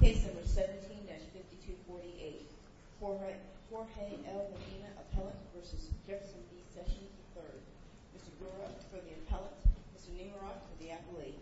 Case No. 17-5248. Jorge L. Medina, appellant v. Jefferson B. Sessions, III Mr. Gura for the appellant, Mr. Nimrod for the appellate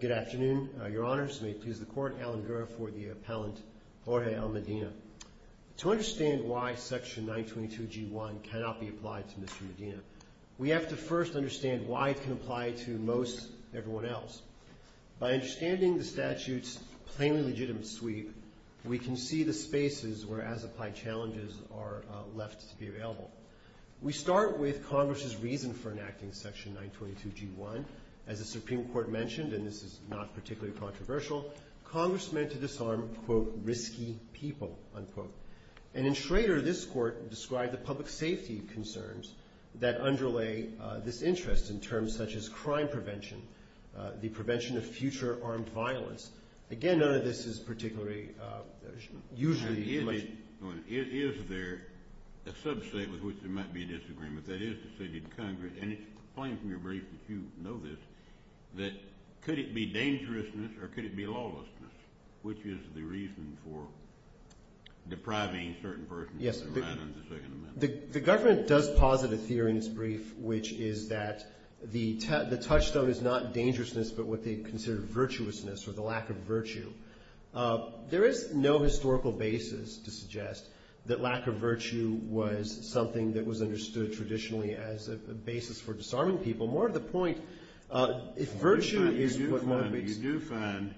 Good afternoon. Your Honors, may it please the Court, Alan Gura for the appellant, Jorge L. Medina. To understand why Section 922G1 cannot be applied to Mr. Medina, we have to first understand why it can apply to most everyone else. By understanding the statute's plainly legitimate sweep, we can see the spaces where as-applied challenges are left to be available. We start with Congress's reason for enacting Section 922G1. As the Supreme And in Schrader, this Court described the public safety concerns that underlay this interest in terms such as crime prevention, the prevention of future armed violence. Again, none of this is particularly usually legitimate. Is there a subset with which there might be a disagreement, that is the City of Congress, and it's plain from your brief that you know this, that could it be dangerousness or could it be the reason for depriving certain persons of their right under the Second Amendment? Yes. The government does posit a theory in its brief which is that the touchstone is not dangerousness but what they consider virtuousness or the lack of virtue. There is no historical basis to suggest that lack of virtue was something that was understood traditionally as a basis for disarming people. More to the point, if virtue is what one You do find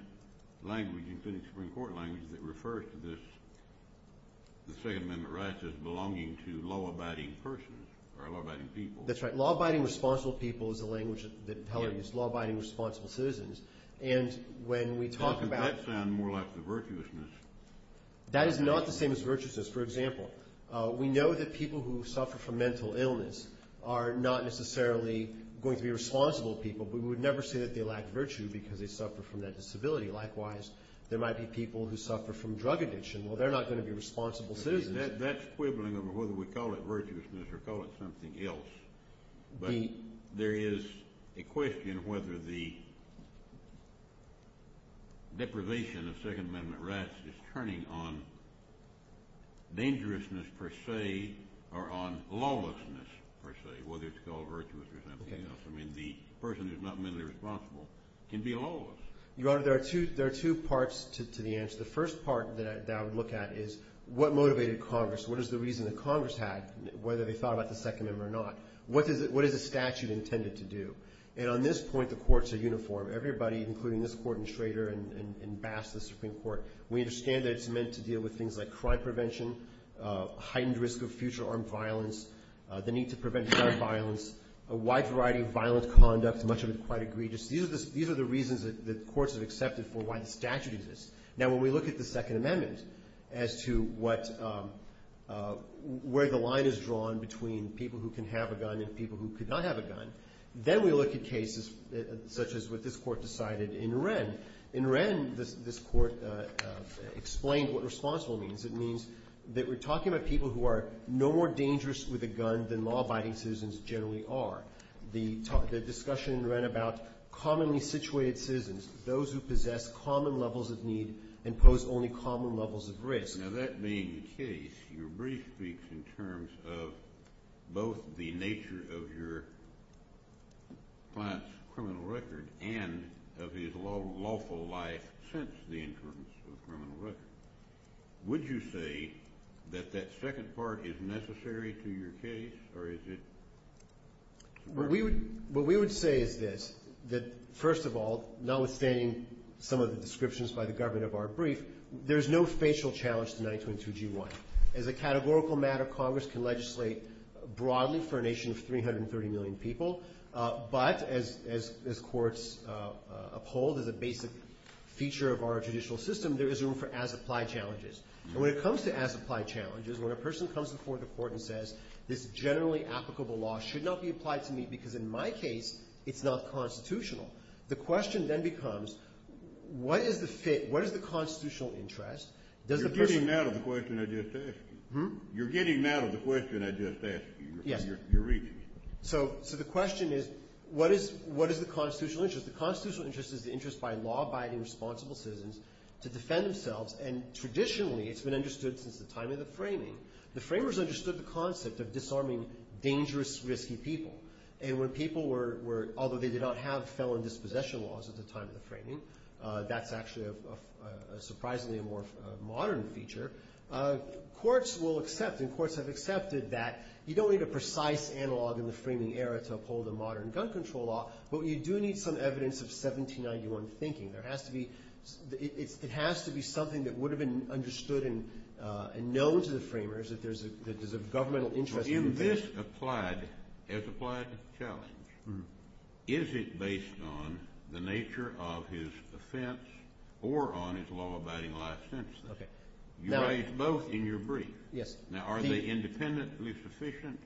language in the Supreme Court language that refers to this, the Second Amendment rights as belonging to law-abiding persons or law-abiding people. That's right. Law-abiding responsible people is the language that Peller used, law-abiding responsible citizens. And when we talk about Doesn't that sound more like the virtuousness? That is not the same as virtuousness. For example, we know that people who suffer from mental illness are not necessarily going to be responsible people, but we would never say that they lack virtue because they suffer from that disability. Likewise, there might be people who suffer from drug addiction. Well, they're not going to be responsible citizens. That's quibbling over whether we call it virtuousness or call it something else. But there is a question whether the deprivation of Second Amendment rights is turning on dangerousness per se or on lawlessness per se, whether it's called virtuous or something else. I mean, the person who's not mentally responsible can be lawless. Your Honor, there are two parts to the answer. The first part that I would look at is what motivated Congress? What is the reason that Congress had, whether they thought about the Second Amendment or not? What is the statute intended to do? And on this point, the courts are uniform. Everybody, including this Court and Schrader and Bass, the Supreme Court, we understand that it's meant to deal with things like crime prevention, heightened risk of future armed violence, the need to prevent violent violence, a wide variety of violent conduct, much of it quite egregious. These are the reasons that courts have accepted for why the statute exists. Now, when we look at the Second Amendment as to where the line is drawn between people who can have a gun and people who could not have a gun, then we look at cases such as what this Court decided in Wren. In Wren, this Court explained what responsible means. It means that we're talking about people who are no more dangerous with a gun than law-abiding citizens generally are. The discussion in Wren about commonly situated citizens, those who possess common levels of need and pose only common levels of risk. Now, that being the case, your brief speaks in terms of both the nature of your client's lawful life since the entrance of the criminal record. Would you say that that second part is necessary to your case, or is it... What we would say is this, that first of all, notwithstanding some of the descriptions by the government of our brief, there's no facial challenge to 922G1. As a categorical matter, Congress can legislate broadly for a nation of 330 million people. But as courts uphold as a basic feature of our judicial system, there is room for as-applied challenges. And when it comes to as-applied challenges, when a person comes before the Court and says, this generally applicable law should not be applied to me because in my case, it's not constitutional, the question then becomes, what is the fit, what is the constitutional interest? Does the person... Hmm? You're getting out of the question I just asked you. Yes. You're reading it. So the question is, what is the constitutional interest? The constitutional interest is the interest by law-abiding, responsible citizens to defend themselves. And traditionally, it's been understood since the time of the framing. The framers understood the concept of disarming dangerous, risky people. And when people were, although they did not have felon dispossession laws at the time of the framing, that's actually a surprisingly more modern feature, courts will accept and courts have accepted that you don't need a precise analog in the framing era to uphold a modern gun control law, but you do need some evidence of 1791 thinking. There has to be, it has to be something that would have been understood and known to the framers that there's a governmental interest... In this applied, as-applied challenge, is it based on the nature of his offense or on his law-abiding life sentence? You raised both in your brief. Now, are they independently sufficient,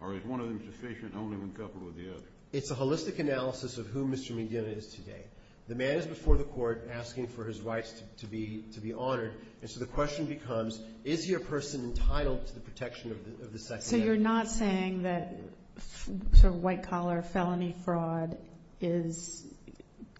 or is one of them sufficient only when coupled with the other? It's a holistic analysis of who Mr. Medina is today. The man is before the court asking for his rights to be honored, and so the question becomes, is he a person entitled to the protection of the Second Amendment? So you're not saying that sort of white-collar felony fraud is,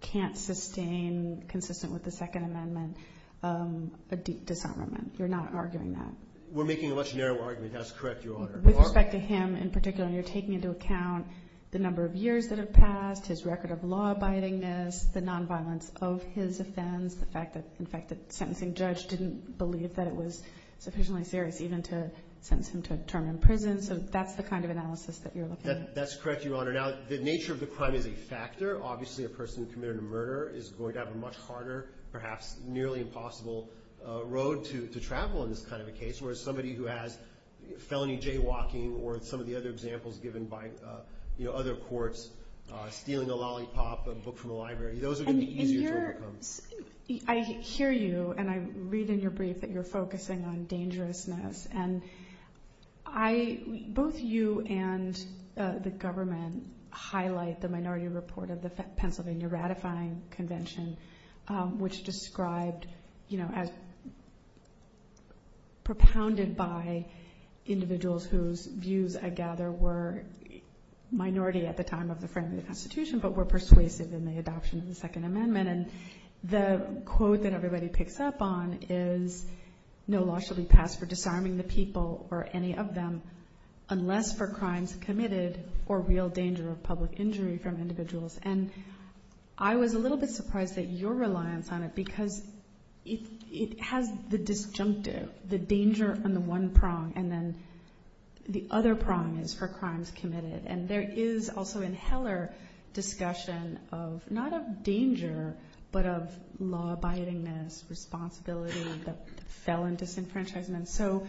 can't sustain, consistent with the Second Amendment, a deep disarmament. You're not arguing that. We're making a much narrower argument. That's correct, Your Honor. With respect to him in particular, you're taking into account the number of years that have passed, his record of law-abidingness, the nonviolence of his offense, the fact that, in fact, the sentencing judge didn't believe that it was sufficiently serious even to sentence him to a term in prison, so that's the kind of analysis that you're looking at. That's correct, Your Honor. Now, the nature of the crime is a factor. Obviously, a person has a severe, perhaps nearly impossible, road to travel in this kind of a case, whereas somebody who has felony jaywalking or some of the other examples given by other courts, stealing a lollipop, a book from a library, those are going to be easier to overcome. I hear you, and I read in your brief that you're focusing on dangerousness, and both you and the government highlight the minority report of the Pennsylvania Ratifying Convention, which described, propounded by individuals whose views, I gather, were minority at the time of the framing of the Constitution, but were persuasive in the adoption of the Second Amendment, and the quote that everybody picks up on is, no law shall be passed for disarming the people or any of them unless for crimes committed or real danger of public injury from individuals. And I was a little bit surprised at your reliance on it, because it has the disjunctive, the danger on the one prong, and then the other prong is for crimes committed. And there is also in Heller discussion of, not of danger, but of law-abidingness, responsibility of the felon disenfranchisement. So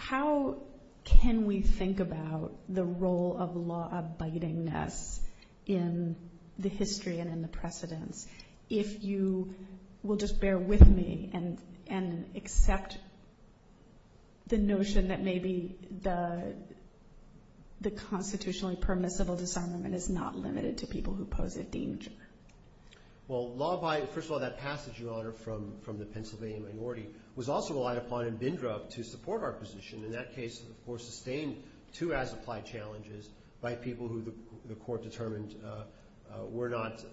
how can we think about the role of law-abidingness in the history and in the precedence, if you will just bear with me and accept the notion that maybe the constitutionally permissible disarmament is not limited to people who pose a danger? Well, law-abiding, first of all, that passage, Your Honor, from the Pennsylvania minority was also relied upon in Bindrup to support our position. In that case, of course, sustained two as-applied challenges by people who the court determined were not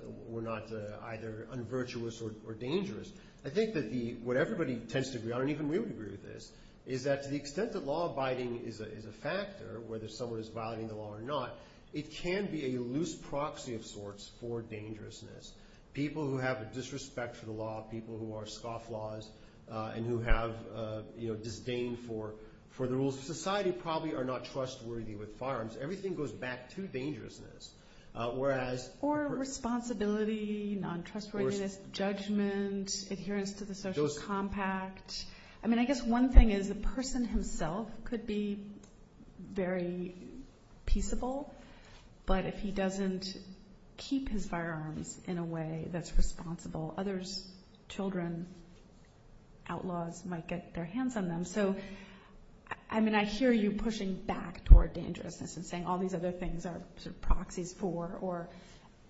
either unvirtuous or dangerous. I think that what everybody tends to agree on, and even we would agree with this, is that to the extent that law-abiding is a factor, whether someone is violating the law or not, it can be a loose proxy of sorts for dangerousness. People who have a disrespect for the law, people who are scofflaws and who have disdain for the rules of society probably are not trustworthy with firearms. Everything goes back to dangerousness. Or responsibility, non-trustworthiness, judgment, adherence to the social compact. I mean, I hear you pushing back toward dangerousness and saying all these other things are proxies for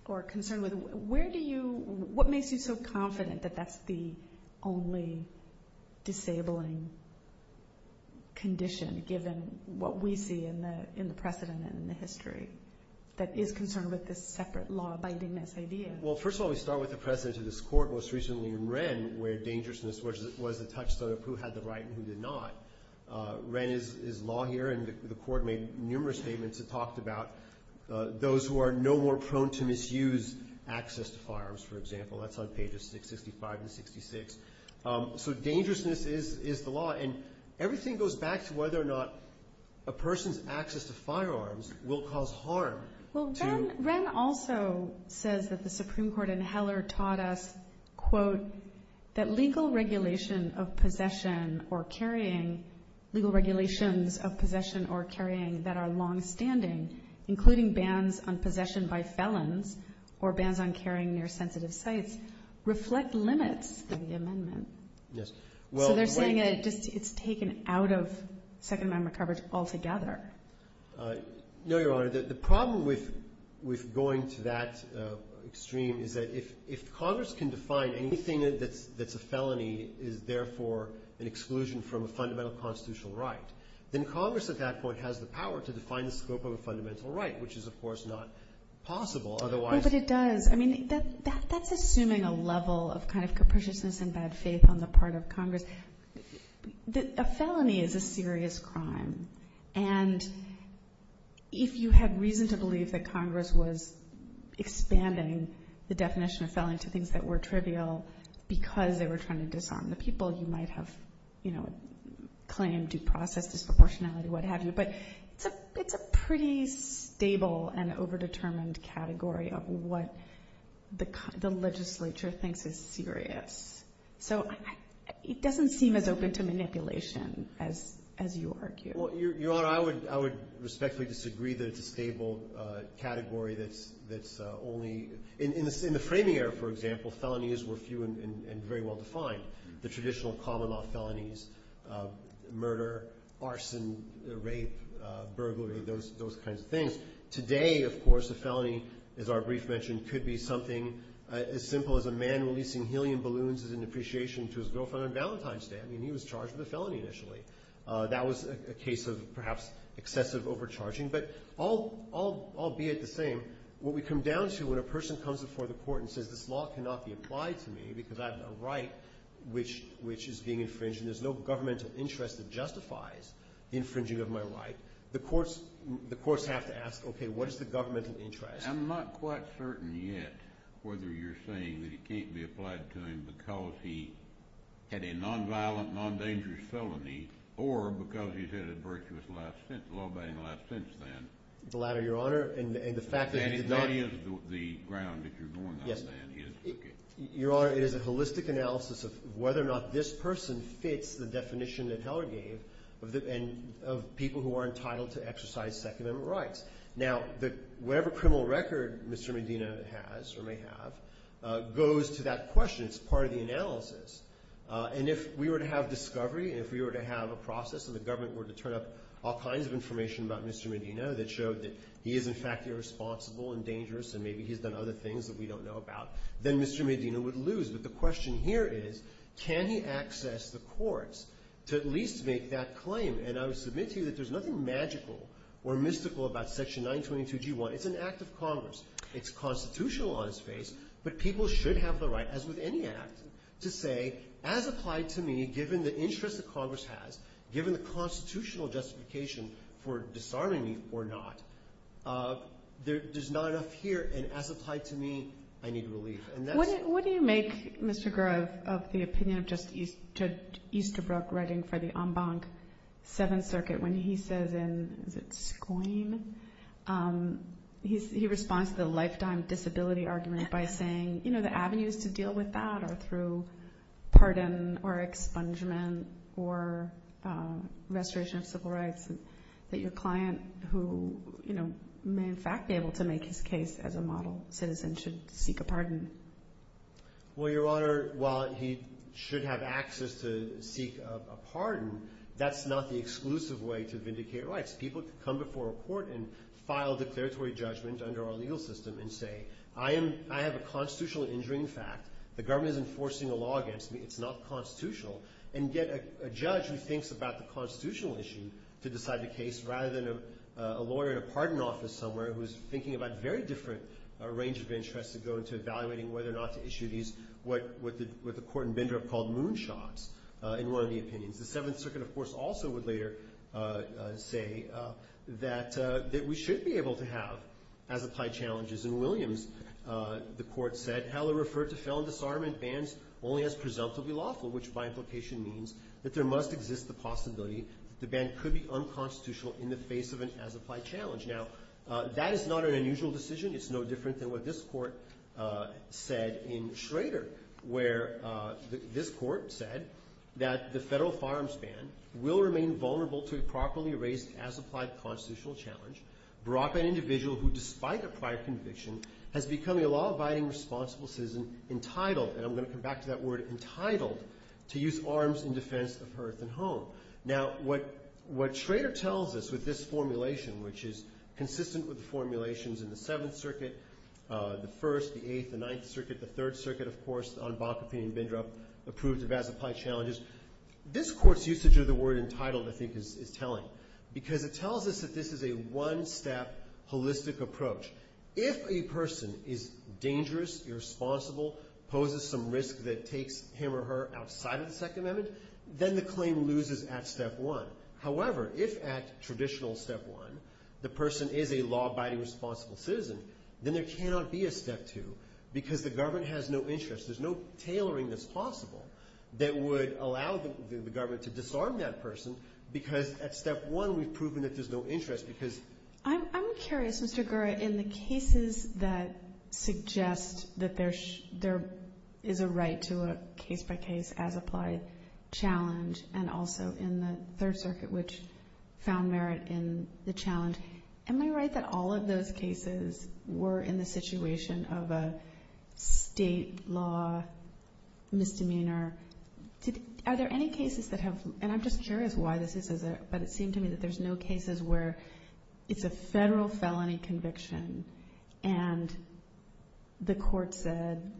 or concerned with. What makes you so confident that that's the only disabling condition given what we see in the precedent and in the history that is concerned with this separate law-abidingness idea? Well, first of all, we start with the precedent of this Court, most recently in Wren, where dangerousness was a touchstone of who had the right and who did not. Wren is law here, and the Court made numerous statements that talked about those who are no more prone to misuse access to firearms, for example. That's on pages 665 and 66. So dangerousness is the law, and everything goes back to whether or not a person's access to firearms will cause harm. Well, Wren also says that the Supreme Court in Heller taught us, quote, that legal regulations of possession or carrying that are longstanding, including bans on possession by felons or bans on carrying near sensitive sites, reflect limits of the amendment. Yes. So they're saying that it's taken out of Second Amendment coverage altogether. No, Your Honor. The problem with going to that extreme is that if Congress can define anything that's a felony is, therefore, an exclusion from a fundamental constitutional right, then Congress at that point has the power to define the scope of a fundamental right, which is, of course, not possible otherwise. But it does. I mean, that's assuming a level of kind of capriciousness and bad faith on the part of Congress. A felony is a serious crime, and if you had reason to believe that Congress was expanding the definition of felony to things that were trivial because they were trying to disarm the people, you might have, you know, claimed due process, disproportionality, what have you. But it's a pretty stable and overdetermined category of what the legislature thinks is serious. So it doesn't seem as open to manipulation as you argue. Well, Your Honor, I would respectfully disagree that it's a stable category that's only in the framing area, for example, felonies were few and very well defined. The traditional common law felonies, murder, arson, rape, burglary, those kinds of things. Today, of course, a felony, as our brief mentioned, could be something as simple as a man releasing helium balloons as an appreciation to his girlfriend on Valentine's Day. I mean, he was charged with a felony initially. That was a case of, perhaps, excessive overcharging. But albeit the same, what we come down to when a person comes before the court and says this law cannot be applied to me because I have a right which is being infringed and there's no governmental interest that justifies the infringing of my right, the courts have to ask, okay, what is the governmental interest? I'm not quite certain yet whether you're saying that it can't be applied to him because he had a non-violent, non-dangerous felony or because he's had a law abiding life since then. The latter, Your Honor. And what is the ground that you're going on saying? Your Honor, it is a holistic analysis of whether or not this person fits the definition that Heller gave of people who are entitled to exercise Second Amendment rights. Now, whatever criminal record Mr. Medina has or may have goes to that question. It's part of the analysis. And if we were to have discovery, if we were to have a process and the government were to turn up all kinds of information about Mr. Medina that showed that he is, in fact, irresponsible and dangerous and maybe he's done other things that we don't know about, then Mr. Medina would lose. But the question here is, can he access the courts to at least make that claim? And I would submit to you that there's nothing magical or mystical about Section 922G1. It's an act of Congress. It's constitutional on its face, but people should have the right, as with any act, to say, as applied to me, given the interest that Congress has, given the constitutional justification for disarming me or not, there's not enough here. And as applied to me, I need relief. And that's... What do you make, Mr. Gura, of the opinion of Justice Easterbrook writing for the en banc Seventh Circuit when he says in, is it Squeam? He responds to the lifetime disability argument by saying, you know, the avenues to deal with that are through pardon or expungement or restoration of civil rights, that your client who, you know, may in fact be able to make his case as a model citizen should seek a pardon. Well, Your Honor, while he should have access to seek a pardon, that's not the exclusive way to vindicate rights. People can come before a court and file declaratory judgment under our legal system and say, I am, I have a constitutional injuring fact, the government is enforcing a law against me, it's not constitutional, and get a judge who thinks about the constitutional issue to decide the case rather than a lawyer in a pardon office somewhere who's thinking about a very different range of interests to go into evaluating whether or not to issue these, what the court in Bindrup called moonshots, in one of the opinions. The Seventh Circuit, of course, also would later say that we should be able to have, as applied challenges. In Williams, the court said, Heller referred to felon disarmament bans only as presumptively lawful, which by implication means that there must exist the possibility the ban could be unconstitutional in the face of an as applied challenge. Now, that is not an unusual decision. It's no different than what this court said in Schrader, where this court said that the federal firearms ban will remain vulnerable to a properly raised as applied constitutional challenge brought by an individual who, despite a prior conviction, has become a law-abiding responsible citizen entitled, and I'm going to come back to that word entitled, to use arms in defense of hearth and home. Now, what Schrader tells us with this formulation, which is consistent with the formulations in the Seventh Circuit, the First, the Eighth, the Ninth Circuit, the Third Circuit, of course, on Bakkepin and Bindrup approved of as applied challenges, this court's usage of the word entitled, I think, is telling, because it tells us that this is a one-step holistic approach. If a person is dangerous, irresponsible, poses some risk that takes him or her outside of the Second Amendment, then the claim loses at step one. However, if at traditional step one the person is a law-abiding responsible citizen, then there cannot be a step two because the government has no interest. There's no tailoring that's possible that would allow the government to disarm that person because at step one we've proven that there's no interest. I'm curious, Mr. Gura, in the cases that suggest that there is a right to a case-by-case as applied challenge and also in the Third Circuit which found merit in the challenge, am I right that all of those cases were in the situation of a state law misdemeanor? Are there any cases that have, and I'm just curious why this is, but it seemed to me that there's no cases where it's a federal felony conviction and the court said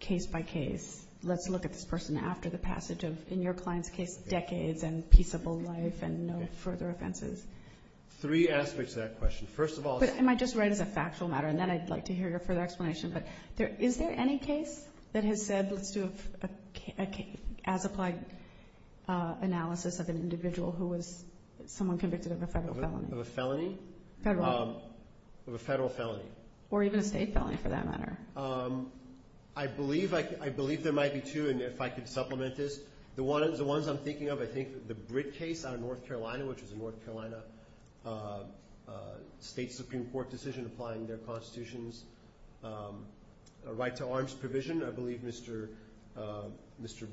case-by-case, let's look at this person after the passage of, in your client's case, decades and peaceable life and no further offenses. Three aspects to that question. First of all. Am I just right as a factual matter? And then I'd like to hear your further explanation. But is there any case that has said let's do an as-applied analysis of an individual who was someone convicted of a federal felony? Of a felony? Federal. Of a federal felony. Or even a state felony for that matter. I believe there might be two, and if I could supplement this. The ones I'm thinking of, I think the Britt case out of North Carolina, which was a North Carolina State Supreme Court decision applying their constitutions. A right to arms provision. I believe Mr.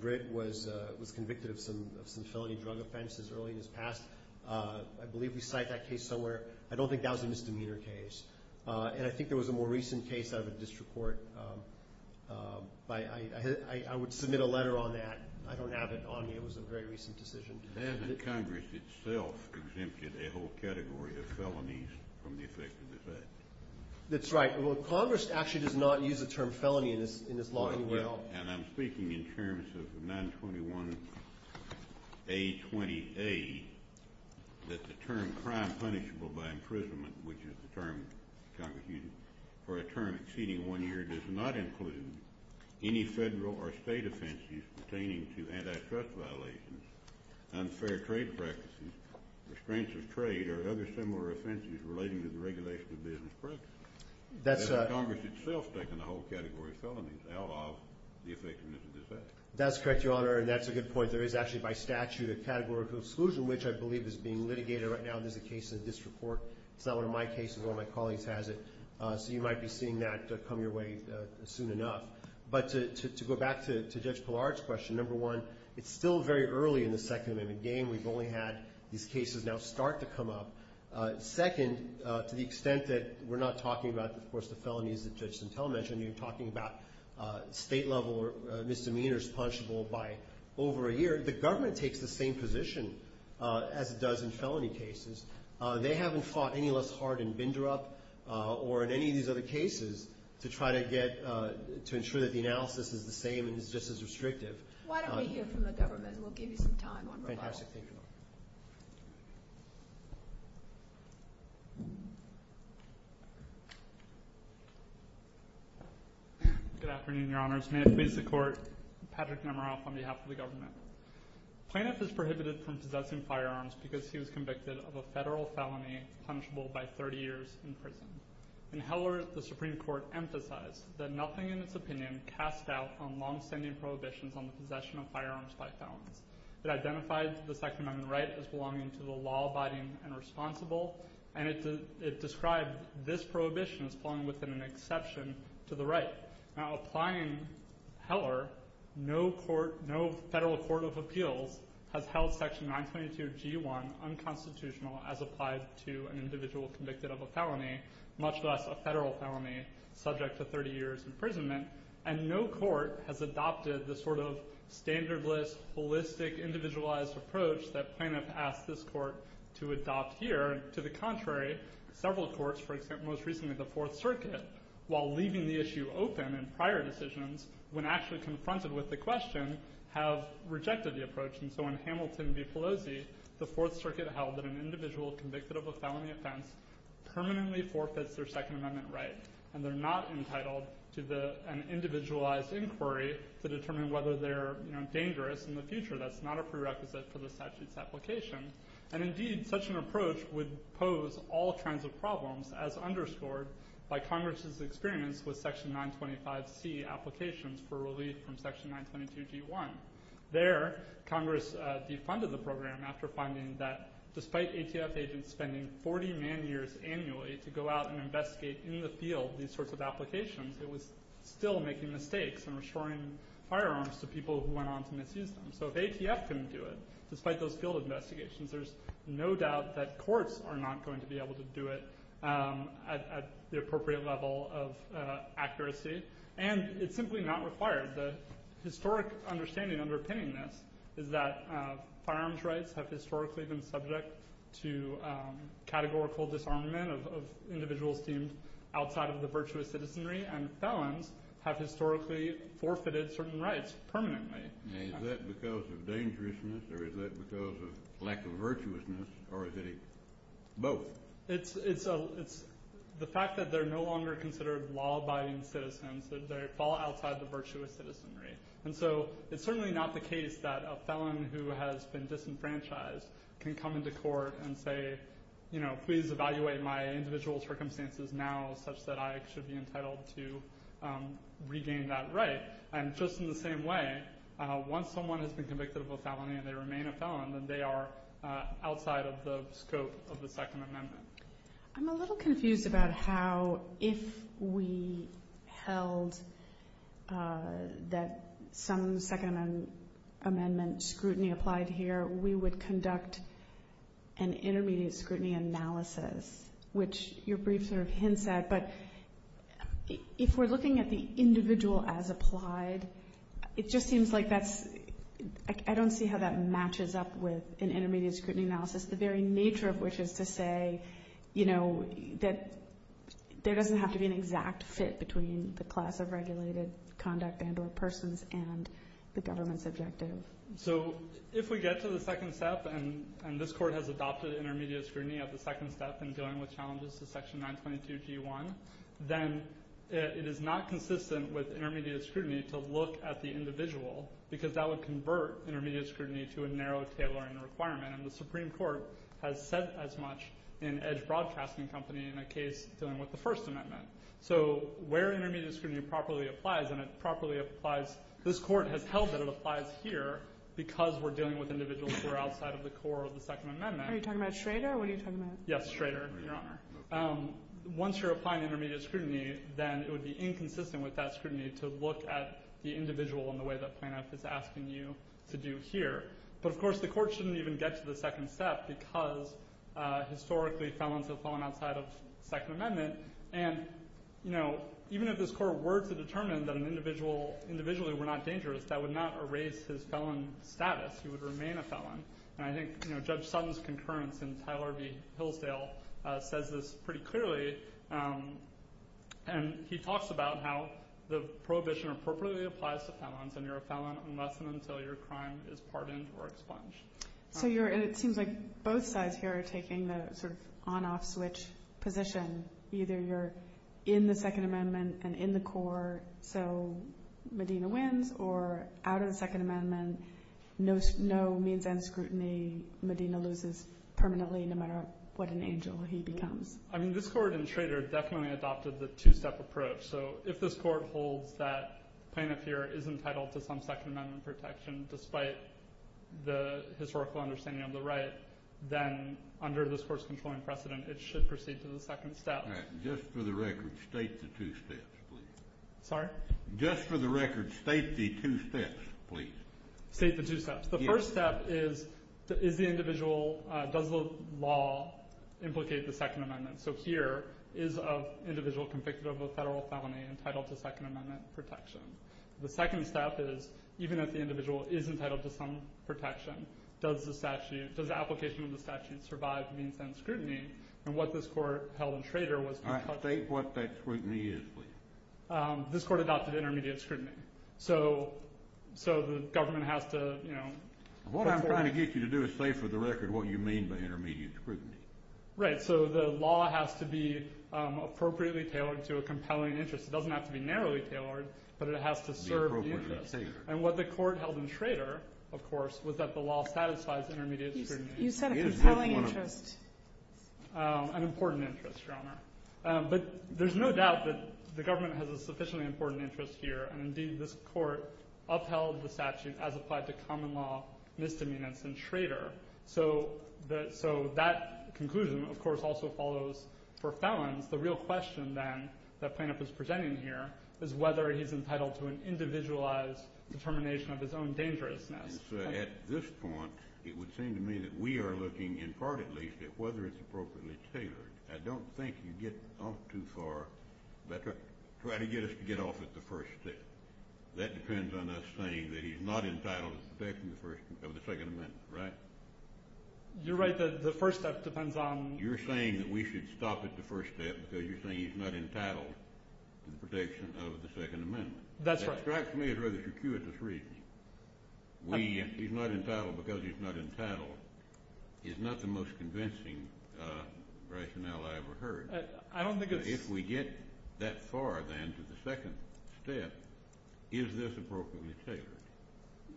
Britt was convicted of some felony drug offenses early in his past. I believe we cite that case somewhere. I don't think that was a misdemeanor case. And I think there was a more recent case out of a district court. I would submit a letter on that. I don't have it on me. It was a very recent decision. Hasn't Congress itself exempted a whole category of felonies from the effect of this act? That's right. Well, Congress actually does not use the term felony in this law anywhere else. And I'm speaking in terms of 921A28 that the term crime punishable by imprisonment, which is the term Congress uses for a term exceeding one year, does not include any federal or state offenses pertaining to antitrust violations, unfair trade practices, restraints of trade, or other similar offenses relating to the regulation of business practices. Has Congress itself taken a whole category of felonies out of the effectiveness of this act? That's correct, Your Honor, and that's a good point. There is actually by statute a category of exclusion, which I believe is being litigated right now. There's a case in a district court. It's not one of my cases. One of my colleagues has it. So you might be seeing that come your way soon enough. But to go back to Judge Pillard's question, number one, it's still very early in the Second Amendment game. We've only had these cases now start to come up. Second, to the extent that we're not talking about, of course, the felonies that Judge Santel mentioned, you're talking about state-level misdemeanors punishable by over a year. The government takes the same position as it does in felony cases. They haven't fought any less hard in Bindurup or in any of these other cases to try to get to ensure that the analysis is the same and is just as restrictive. Why don't we hear from the government, and we'll give you some time. Fantastic. Thank you, Your Honor. Good afternoon, Your Honors. May it please the Court, Patrick Nemeroff on behalf of the government. Plaintiff is prohibited from possessing firearms because he was convicted of a federal felony punishable by 30 years in prison. In Heller, the Supreme Court emphasized that nothing in its opinion cast doubt on long-standing prohibitions on the possession of firearms by felons. It identified the Second Amendment right as belonging to the law-abiding and responsible, and it described this prohibition as falling within an exception to the right. Now applying Heller, no federal court of appeals has held Section 922G1 unconstitutional as applied to an individual convicted of a felony, much less a federal felony subject to 30 years' imprisonment, and no court has adopted the sort of standardless, holistic, individualized approach that plaintiff asked this court to adopt here. To the contrary, several courts, for example, most recently the Fourth Circuit, while leaving the issue open in prior decisions, when actually confronted with the question, have rejected the approach. And so in Hamilton v. Pelosi, the Fourth Circuit held that an individual convicted of a felony offense permanently forfeits their Second Amendment right, and they're not entitled to an individualized inquiry to determine whether they're dangerous in the future. That's not a prerequisite for the statute's application. And indeed, such an approach would pose all kinds of problems, as underscored by Congress' experience with Section 925C applications for relief from Section 922G1. There, Congress defunded the program after finding that despite ATF agents spending 40 million years annually to go out and investigate in the field these sorts of applications, it was still making mistakes and restoring firearms to people who went on to misuse them. So if ATF can do it, despite those field investigations, there's no doubt that courts are not going to be able to do it at the appropriate level of accuracy. And it's simply not required. The historic understanding underpinning this is that firearms rights have historically been subject to categorical disarmament of individuals deemed outside of the virtuous citizenry, and felons have historically forfeited certain rights permanently. Is that because of dangerousness, or is that because of lack of virtuousness, or is it both? It's the fact that they're no longer considered law-abiding citizens, that they fall outside the virtuous citizenry. And so it's certainly not the case that a felon who has been disenfranchised can come into court and say, you know, please evaluate my individual circumstances now such that I should be entitled to regain that right. And just in the same way, once someone has been convicted of a felony and they remain a felon, then they are outside of the scope of the Second Amendment. I'm a little confused about how, if we held that some Second Amendment scrutiny applied here, we would conduct an intermediate scrutiny analysis, which your brief sort of hints at. But if we're looking at the individual as applied, it just seems like that's – I don't see how that matches up with an intermediate scrutiny analysis, the very nature of which is to say, you know, that there doesn't have to be an exact fit between the class of regulated conduct and or persons and the government's objective. So if we get to the second step, and this Court has adopted intermediate scrutiny at the second step in dealing with challenges to Section 922G1, then it is not consistent with intermediate scrutiny to look at the individual because that would convert intermediate scrutiny to a narrow tailoring requirement. And the Supreme Court has said as much in Edge Broadcasting Company in a case dealing with the First Amendment. So where intermediate scrutiny properly applies, and it properly applies – this Court has held that it applies here because we're dealing with individuals who are outside of the core of the Second Amendment. Are you talking about Schrader, or what are you talking about? Yes, Schrader, Your Honor. Once you're applying intermediate scrutiny, then it would be inconsistent with that scrutiny to look at the individual in the way that Plan F is asking you to do here. But of course the Court shouldn't even get to the second step because historically felons have fallen outside of the Second Amendment. And, you know, even if this Court were to determine that an individual – an individual who were not dangerous, that would not erase his felon status. He would remain a felon. And I think Judge Sutton's concurrence in Tyler v. Hillsdale says this pretty clearly. And he talks about how the prohibition appropriately applies to felons and you're a felon unless and until your crime is pardoned or expunged. So you're – and it seems like both sides here are taking the sort of on-off switch position. Either you're in the Second Amendment and in the core, so Medina wins, or out of the Second Amendment, no means and scrutiny. Medina loses permanently no matter what an angel he becomes. I mean, this Court in Schrader definitely adopted the two-step approach. So if this Court holds that Plaintiff here is entitled to some Second Amendment protection despite the historical understanding of the right, then under this Court's controlling precedent, it should proceed to the second step. All right. Just for the record, state the two steps, please. Sorry? Just for the record, state the two steps, please. State the two steps. The first step is, is the individual – does the law implicate the Second Amendment? So here is an individual convicted of a federal felony entitled to Second Amendment protection. The second step is, even if the individual is entitled to some protection, does the statute – does the application of the statute survive means and scrutiny? And what this Court held in Schrader was – All right. State what that scrutiny is, please. This Court adopted intermediate scrutiny. So the government has to, you know – What I'm trying to get you to do is say for the record what you mean by intermediate scrutiny. Right. So the law has to be appropriately tailored to a compelling interest. It doesn't have to be narrowly tailored, but it has to serve the interest. And what the Court held in Schrader, of course, was that the law satisfies intermediate scrutiny. You said a compelling interest. An important interest, Your Honor. But there's no doubt that the government has a sufficiently important interest here, and indeed this Court upheld the statute as applied to common law, misdemeanants, and Schrader. So that conclusion, of course, also follows for felons. The real question, then, that plaintiff is presenting here is whether he's entitled to an individualized determination of his own dangerousness. At this point, it would seem to me that we are looking, in part at least, at whether it's appropriately tailored. I don't think you get off too far. Try to get us to get off at the first step. That depends on us saying that he's not entitled to the protection of the Second Amendment, right? You're right. The first step depends on – You're saying that we should stop at the first step because you're saying he's not entitled to the protection of the Second Amendment. That's right. That strikes me as rather circuitous reasoning. He's not entitled because he's not entitled is not the most convincing rationale I ever heard. I don't think it's – If we get that far, then, to the second step, is this appropriately tailored?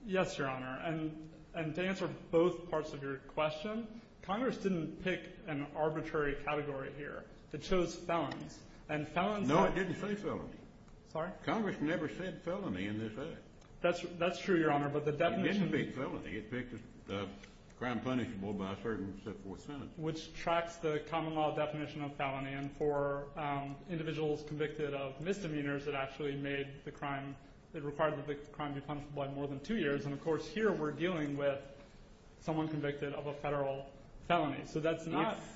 Yes, Your Honor, and to answer both parts of your question, Congress didn't pick an arbitrary category here. It chose felons, and felons – No, it didn't say felons. Sorry? Congress never said felony in this act. That's true, Your Honor, but the definition – It didn't pick felony. It picked the crime punishable by a certain sentence. Which tracks the common law definition of felony, and for individuals convicted of misdemeanors, it actually made the crime – it required the crime to be punishable by more than two years, and, of course, here we're dealing with someone convicted of a federal felony, so that's not –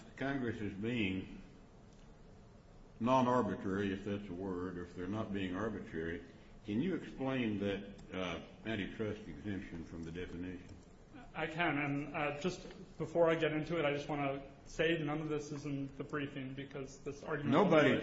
non-arbitrary, if that's a word, or if they're not being arbitrary. Can you explain that antitrust exemption from the definition? I can, and just before I get into it, I just want to say none of this is in the briefing because this argument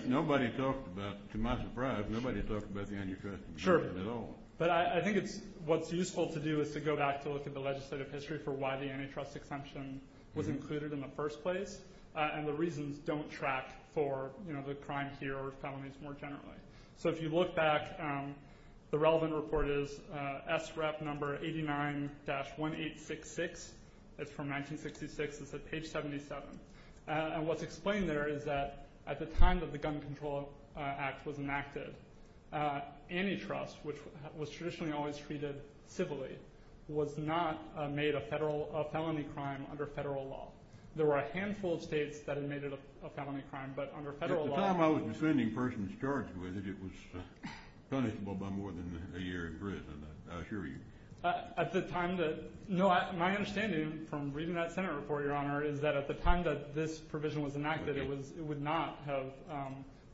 – Nobody talked about – to my surprise, nobody talked about the antitrust exemption at all. Sure, but I think it's – what's useful to do is to go back to look at the legislative history for why the antitrust exemption was included in the first place, and the reasons don't track for the crime here or felonies more generally. So if you look back, the relevant report is SREP number 89-1866. It's from 1966. It's at page 77. And what's explained there is that at the time that the Gun Control Act was enacted, antitrust, which was traditionally always treated civilly, was not made a felony crime under federal law. There were a handful of states that had made it a felony crime, but under federal law – At the time I was defending persons charged with it, it was punishable by more than a year in prison, I assure you. At the time that – no, my understanding from reading that Senate report, Your Honor, is that at the time that this provision was enacted, it would not have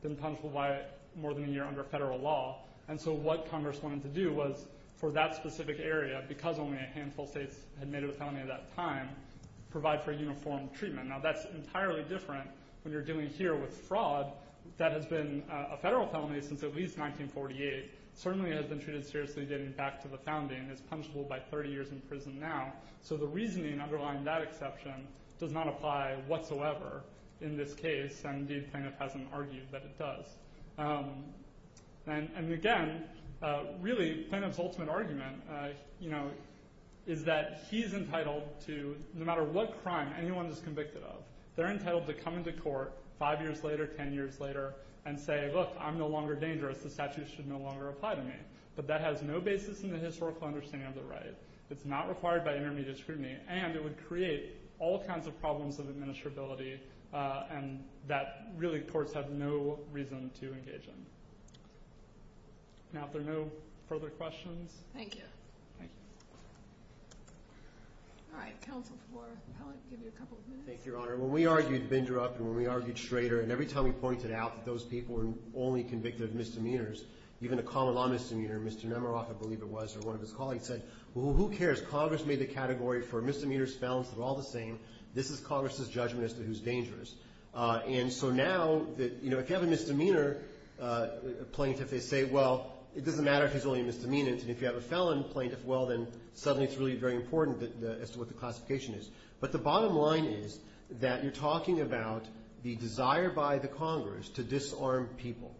been punishable by more than a year under federal law. And so what Congress wanted to do was for that specific area, because only a handful of states had made it a felony at that time, provide for uniform treatment. Now that's entirely different when you're dealing here with fraud that has been a federal felony since at least 1948. It certainly has been treated seriously getting back to the founding. It's punishable by 30 years in prison now. So the reasoning underlying that exception does not apply whatsoever in this case, and indeed Planoff hasn't argued that it does. And again, really Planoff's ultimate argument, you know, is that he's entitled to – no matter what crime anyone is convicted of, they're entitled to come into court five years later, ten years later, and say, look, I'm no longer dangerous. The statute should no longer apply to me. But that has no basis in the historical understanding of the right. It's not required by intermediate scrutiny, and it would create all kinds of problems of administrability and that really courts have no reason to engage in. Now, if there are no further questions. Thank you. Thank you. All right. Counsel for Pellitt, give you a couple of minutes. Thank you, Your Honor. When we argued Bindrup and when we argued Schrader, and every time we pointed out that those people were only convicted of misdemeanors, even a common-law misdemeanor, Mr. Nemeroff, I believe it was, or one of his colleagues said, well, who cares? Congress made the category for misdemeanors, felons, they're all the same. This is Congress's judgment as to who's dangerous. And so now, you know, if you have a misdemeanor plaintiff, they say, well, it doesn't matter if he's only a misdemeanor. And if you have a felon plaintiff, well, then suddenly it's really very important as to what the classification is. But the bottom line is that you're talking about the desire by the Congress to disarm people.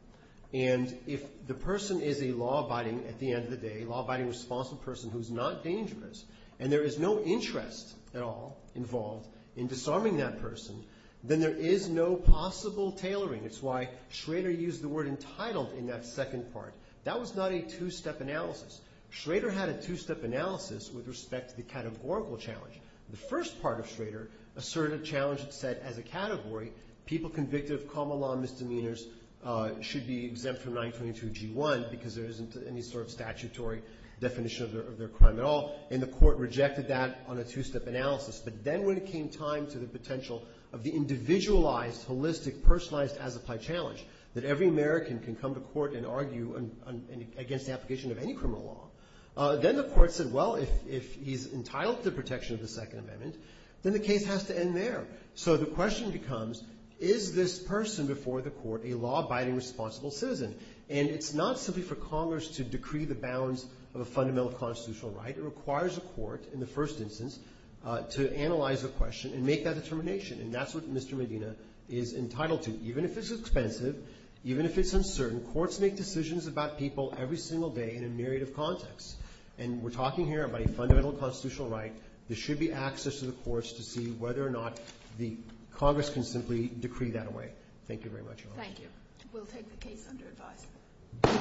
And if the person is a law-abiding, at the end of the day, law-abiding responsible person who's not dangerous, and there is no interest at all involved in disarming that person, then there is no possible tailoring. It's why Schrader used the word entitled in that second part. That was not a two-step analysis. Schrader had a two-step analysis with respect to the categorical challenge. The first part of Schrader asserted a challenge that said, as a category, people convicted of common-law misdemeanors should be exempt from 922G1 because there isn't any sort of statutory definition of their crime at all. And the court rejected that on a two-step analysis. But then when it came time to the potential of the individualized, holistic, personalized, as-applied challenge, that every American can come to court and argue against the application of any criminal law, then the court said, well, if he's entitled to the protection of the Second Amendment, then the case has to end there. So the question becomes, is this person before the court a law-abiding responsible citizen? And it's not simply for Congress to decree the bounds of a fundamental constitutional right. It requires a court, in the first instance, to analyze the question and make that determination. And that's what Mr. Medina is entitled to, even if it's expensive, even if it's uncertain. Courts make decisions about people every single day in a narrative context. And we're talking here about a fundamental constitutional right. There should be access to the courts to see whether or not the Congress can simply decree that away. Thank you very much, Your Honor. Thank you. We'll take the case under advice.